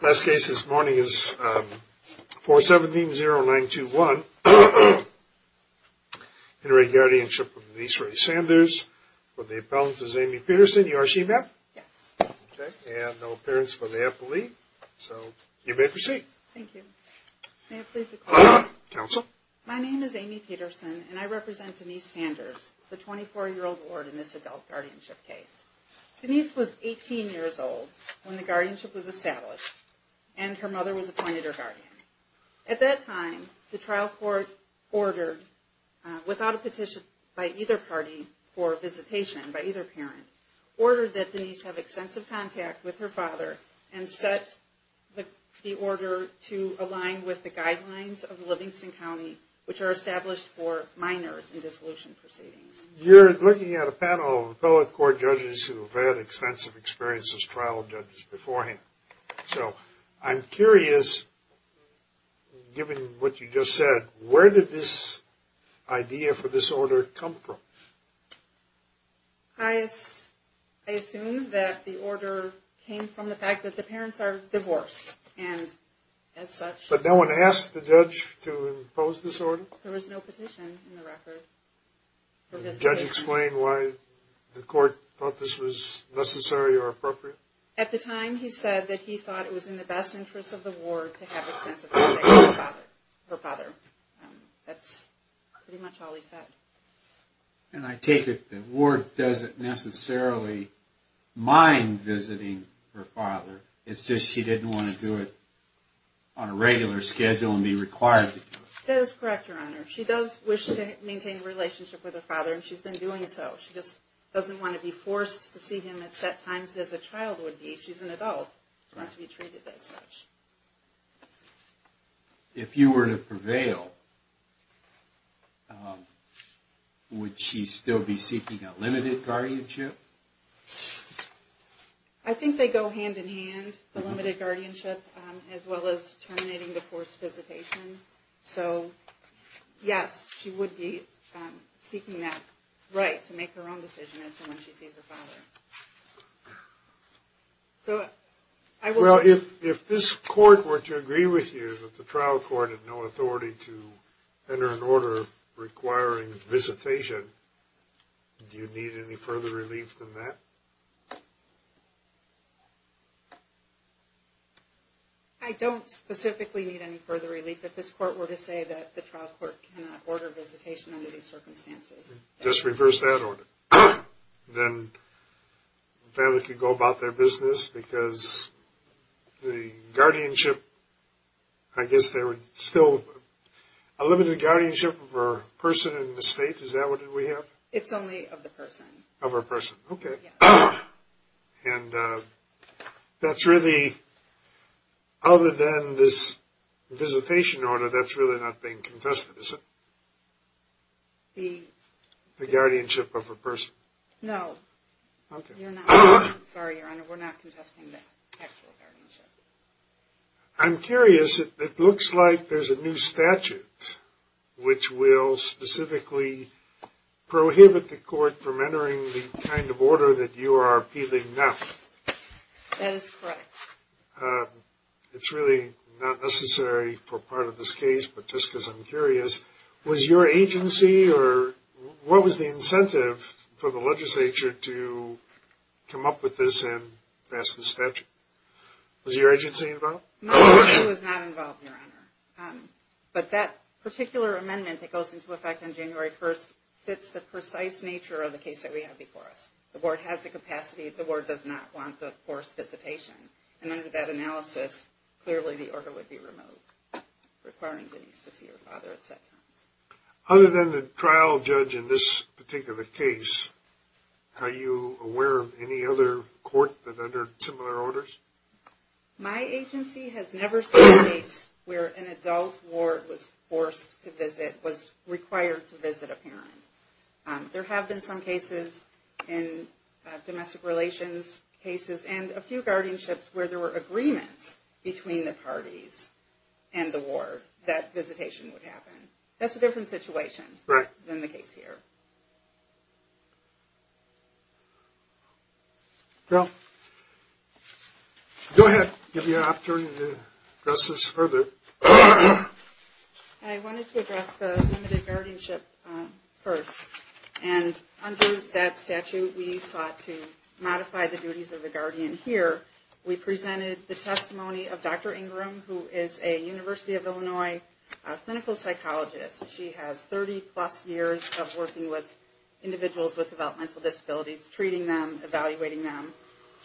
Last case this morning is 417-0921, Inter-Aid Guardianship of Denise Ray Sanders. For the appellant is Amy Peterson, you are she, ma'am? Yes. Okay, and no appearance for the appellee, so you may proceed. Thank you. May I please have a call? Counsel. My name is Amy Peterson, and I represent Denise Sanders, the 24-year-old ward in this adult guardianship case. Denise was 18 years old when the guardianship was established, and her mother was appointed her guardian. At that time, the trial court ordered, without a petition by either party for visitation, by either parent, ordered that Denise have extensive contact with her father and set the order to align with the guidelines of Livingston County, which are established for minors in dissolution proceedings. You're looking at a panel of appellate court judges who have had extensive experience as trial judges beforehand. So I'm curious, given what you just said, where did this idea for this order come from? I assume that the order came from the fact that the parents are divorced, and as such. But no one asked the judge to impose this order? There was no petition in the record. Can you explain why the court thought this was necessary or appropriate? At the time, he said that he thought it was in the best interest of the ward to have extensive contact with her father. That's pretty much all he said. And I take it the ward doesn't necessarily mind visiting her father. It's just she didn't want to do it on a regular schedule and be required to do it. That is correct, Your Honor. She does wish to maintain a relationship with her father, and she's been doing so. She just doesn't want to be forced to see him at set times as a child would be. She's an adult. She wants to be treated as such. If you were to prevail, would she still be seeking a limited guardianship? I think they go hand-in-hand, the limited guardianship, as well as terminating the forced visitation. So, yes, she would be seeking that right to make her own decision as to when she sees her father. Well, if this court were to agree with you that the trial court had no authority to enter an order requiring visitation, do you need any further relief than that? I don't specifically need any further relief. If this court were to say that the trial court cannot order visitation under these circumstances. Just reverse that order. Then the family could go about their business because the guardianship, I guess there would still be a limited guardianship for a person in the state. Is that what we have? It's only of the person. Of a person. Okay. And that's really, other than this visitation order, that's really not being contested, is it? The? The guardianship of a person. No. Okay. Sorry, Your Honor, we're not contesting the actual guardianship. I'm curious. It looks like there's a new statute which will specifically prohibit the court from entering the kind of order that you are appealing now. That is correct. It's really not necessary for part of this case, but just because I'm curious. Was your agency or what was the incentive for the legislature to come up with this and pass the statute? Was your agency involved? My agency was not involved, Your Honor. But that particular amendment that goes into effect on January 1st fits the precise nature of the case that we have before us. The board has the capacity. The board does not want the forced visitation. And under that analysis, clearly the order would be removed, requiring Denise to see her father at set times. Other than the trial judge in this particular case, are you aware of any other court that under similar orders? My agency has never seen a case where an adult ward was forced to visit, was required to visit a parent. There have been some cases in domestic relations cases and a few guardianships where there were agreements between the parties and the ward that visitation would happen. That's a different situation than the case here. Go ahead. Give you an opportunity to address this further. I wanted to address the limited guardianship first. And under that statute, we sought to modify the duties of the guardian here. We presented the testimony of Dr. Ingram, who is a University of Illinois clinical psychologist. She has 30 plus years of working with individuals with developmental disabilities, treating them, evaluating them.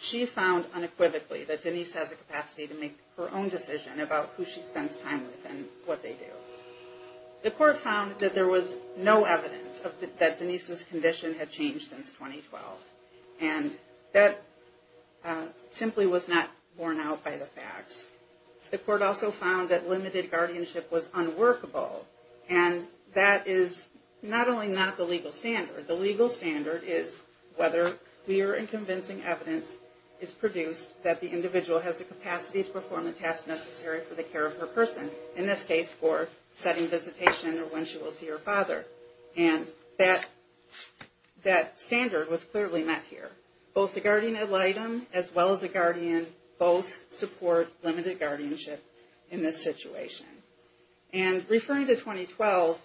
She found unequivocally that Denise has a capacity to make her own decision about who she spends time with and what they do. The court found that there was no evidence that Denise's condition had changed since 2012. And that simply was not borne out by the facts. The court also found that limited guardianship was unworkable. And that is not only not the legal standard. The legal standard is whether clear and convincing evidence is produced that the individual has the capacity to perform the tasks necessary for the care of her person. In this case, for setting visitation or when she will see her father. And that standard was clearly met here. Both the guardian ad litem as well as the guardian both support limited guardianship in this situation. And referring to 2012,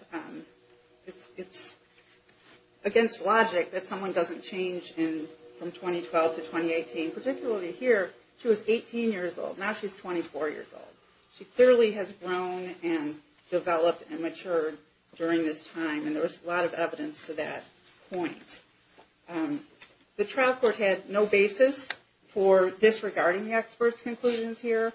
it's against logic that someone doesn't change from 2012 to 2018. Particularly here, she was 18 years old. Now she's 24 years old. She clearly has grown and developed and matured during this time. And there was a lot of evidence to that point. The trial court had no basis for disregarding the expert's conclusions here.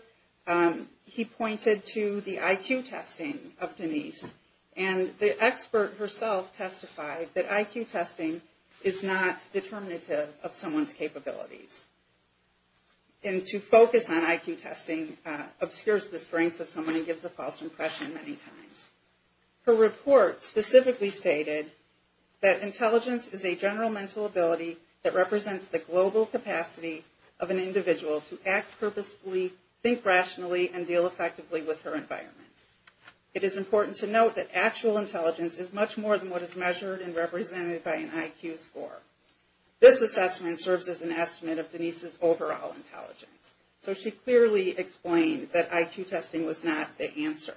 He pointed to the IQ testing of Denise. And the expert herself testified that IQ testing is not determinative of someone's capabilities. And to focus on IQ testing obscures the strengths of someone and gives a false impression many times. Her report specifically stated that intelligence is a general mental ability that represents the global capacity of an individual to act purposely, think rationally, and deal effectively with her environment. It is important to note that actual intelligence is much more than what is measured and represented by an IQ score. This assessment serves as an estimate of Denise's overall intelligence. So she clearly explained that IQ testing was not the answer.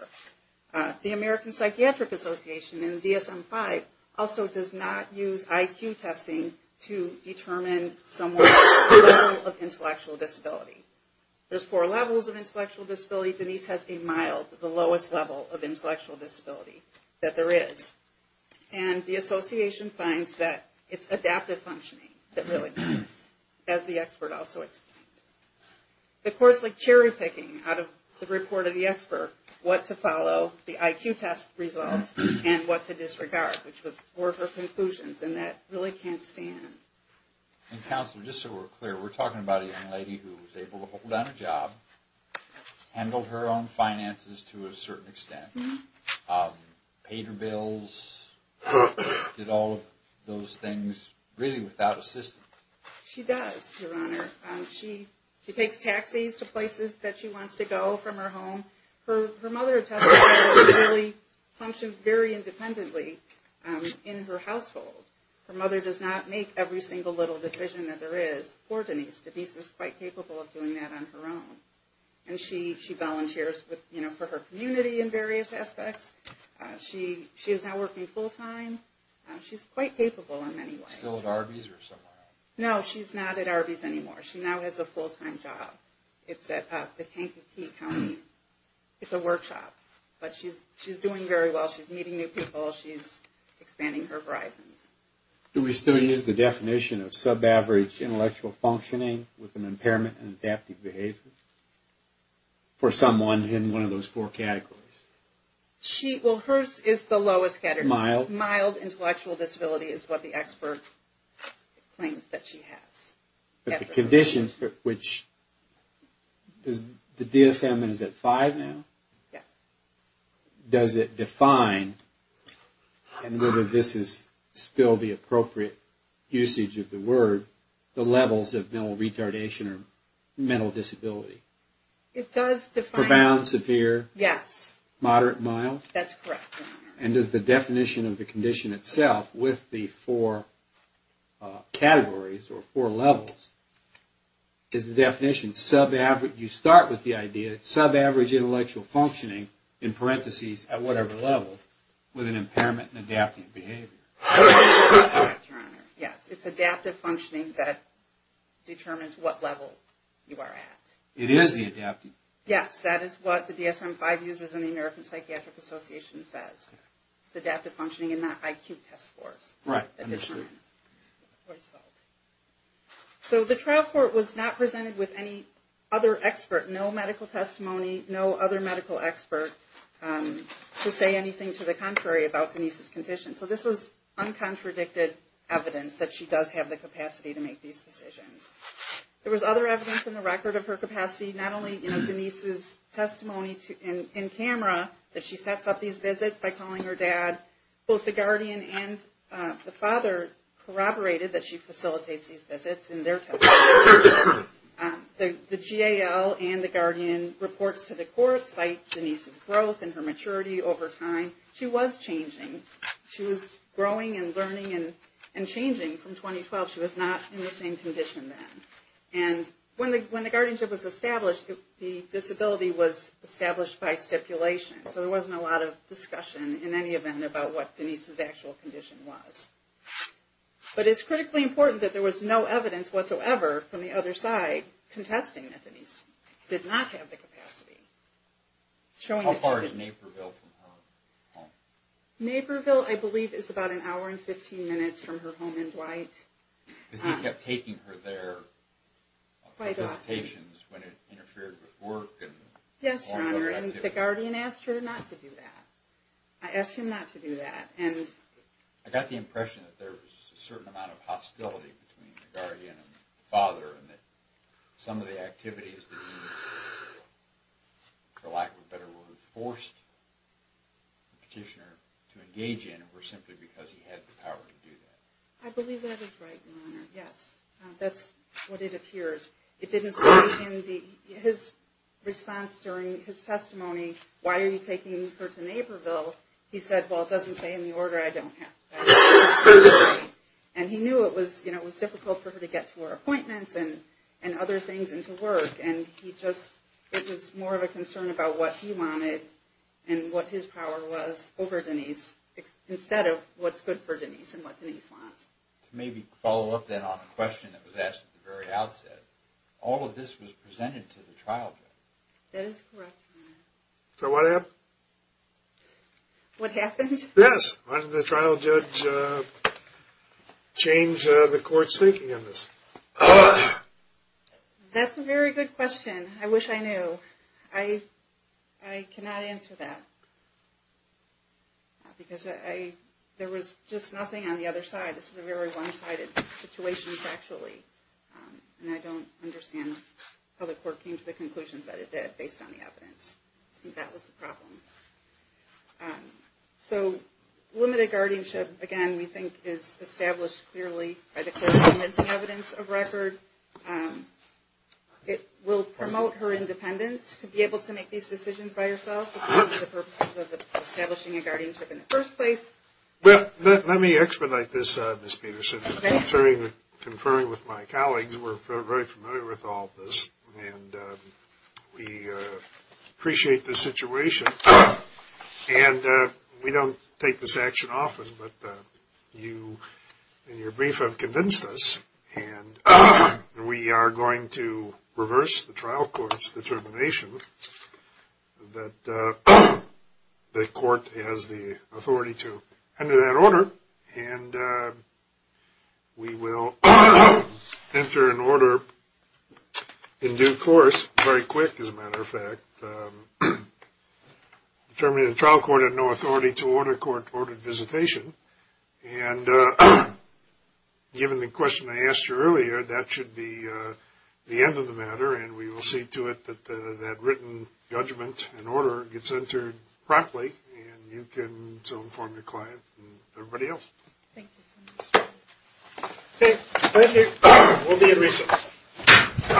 The American Psychiatric Association and DSM-5 also does not use IQ testing to determine someone's level of intellectual disability. There's four levels of intellectual disability. Denise has a mild, the lowest level of intellectual disability that there is. And the association finds that it's adaptive functioning that really matters, as the expert also explained. The courts like cherry-picking out of the report of the expert what to follow, the IQ test results, and what to disregard, which were her conclusions, and that really can't stand. And Counselor, just so we're clear, we're talking about a young lady who was able to hold on a job, handled her own finances to a certain extent, paid her bills, did all of those things really without assistance. She does, Your Honor. She takes taxis to places that she wants to go from her home. Her mother attests to how she really functions very independently in her household. Her mother does not make every single little decision that there is for Denise. Denise is quite capable of doing that on her own. And she volunteers for her community in various aspects. She is now working full-time. She's quite capable in many ways. Still at Arby's or somewhere else? No, she's not at Arby's anymore. She now has a full-time job. It's at the Kankakee County. It's a workshop. But she's doing very well. She's meeting new people. She's expanding her horizons. Do we still use the definition of sub-average intellectual functioning with an impairment in adaptive behavior? For someone in one of those four categories? Well, hers is the lowest category. Mild? Mild intellectual disability is what the expert claims that she has. But the condition for which... The DSM is at five now? Yes. Does it define, and whether this is still the appropriate usage of the word, the levels of mental retardation or mental disability? It does define... Profound, severe? Yes. Moderate, mild? That's correct. And does the definition of the condition itself, with the four categories or four levels, is the definition, you start with the idea, sub-average intellectual functioning, in parentheses, at whatever level, with an impairment in adaptive behavior? Yes, it's adaptive functioning that determines what level you are at. It is the adaptive? Yes, that is what the DSM-5 uses and the American Psychiatric Association says. It's adaptive functioning and not IQ test scores. Right. So the trial court was not presented with any other expert, no medical testimony, no other medical expert to say anything to the contrary about Denise's condition. So this was uncontradicted evidence that she does have the capacity to make these decisions. There was other evidence in the record of her capacity, not only Denise's testimony in camera, that she sets up these visits by calling her dad. Both the guardian and the father corroborated that she facilitates these visits in their testimony. The GAL and the guardian reports to the court cite Denise's growth and her maturity over time. She was changing. She was growing and learning and changing from 2012. She was not in the same condition then. When the guardianship was established, the disability was established by stipulation. So there wasn't a lot of discussion in any event about what Denise's actual condition was. But it's critically important that there was no evidence whatsoever from the other side contesting that Denise did not have the capacity. How far is Naperville from her home? Naperville, I believe, is about an hour and 15 minutes from her home in Dwight. Because he kept taking her there for visitations when it interfered with work and all other activities. Yes, Your Honor, and the guardian asked her not to do that. I asked him not to do that. I got the impression that there was a certain amount of hostility between the guardian and the father and that some of the activities that he, for lack of a better word, forced the petitioner to engage in were simply because he had the power to do that. I believe that is right, Your Honor, yes. That's what it appears. It didn't stop him. His response during his testimony, why are you taking her to Naperville, he said, well, it doesn't say in the order I don't have. And he knew it was difficult for her to get to her appointments and other things and to work. And he just, it was more of a concern about what he wanted and what his power was over Denise instead of what's good for Denise and what Denise wants. To maybe follow up then on a question that was asked at the very outset, all of this was presented to the trial judge. That is correct, Your Honor. So what happened? What happened? Yes, why did the trial judge change the court's thinking on this? That's a very good question. I wish I knew. So I cannot answer that. Because there was just nothing on the other side. This is a very one-sided situation, factually. And I don't understand how the court came to the conclusions that it did based on the evidence. I think that was the problem. So limited guardianship, again, we think is established clearly by the court's convincing evidence of record. It will promote her independence to be able to make these decisions by herself for the purposes of establishing a guardianship in the first place. Well, let me expedite this, Ms. Peterson. Okay. Conferring with my colleagues, we're very familiar with all of this. And we appreciate the situation. And we don't take this action often, but you, in your brief, have convinced us. And we are going to reverse the trial court's determination that the court has the authority to enter that order. And we will enter an order in due course, very quick, as a matter of fact, determining the trial court had no authority to order court-ordered visitation. And given the question I asked you earlier, that should be the end of the matter. And we will see to it that that written judgment and order gets entered promptly, and you can inform your clients and everybody else. Thank you so much. Thank you. We'll be in recess.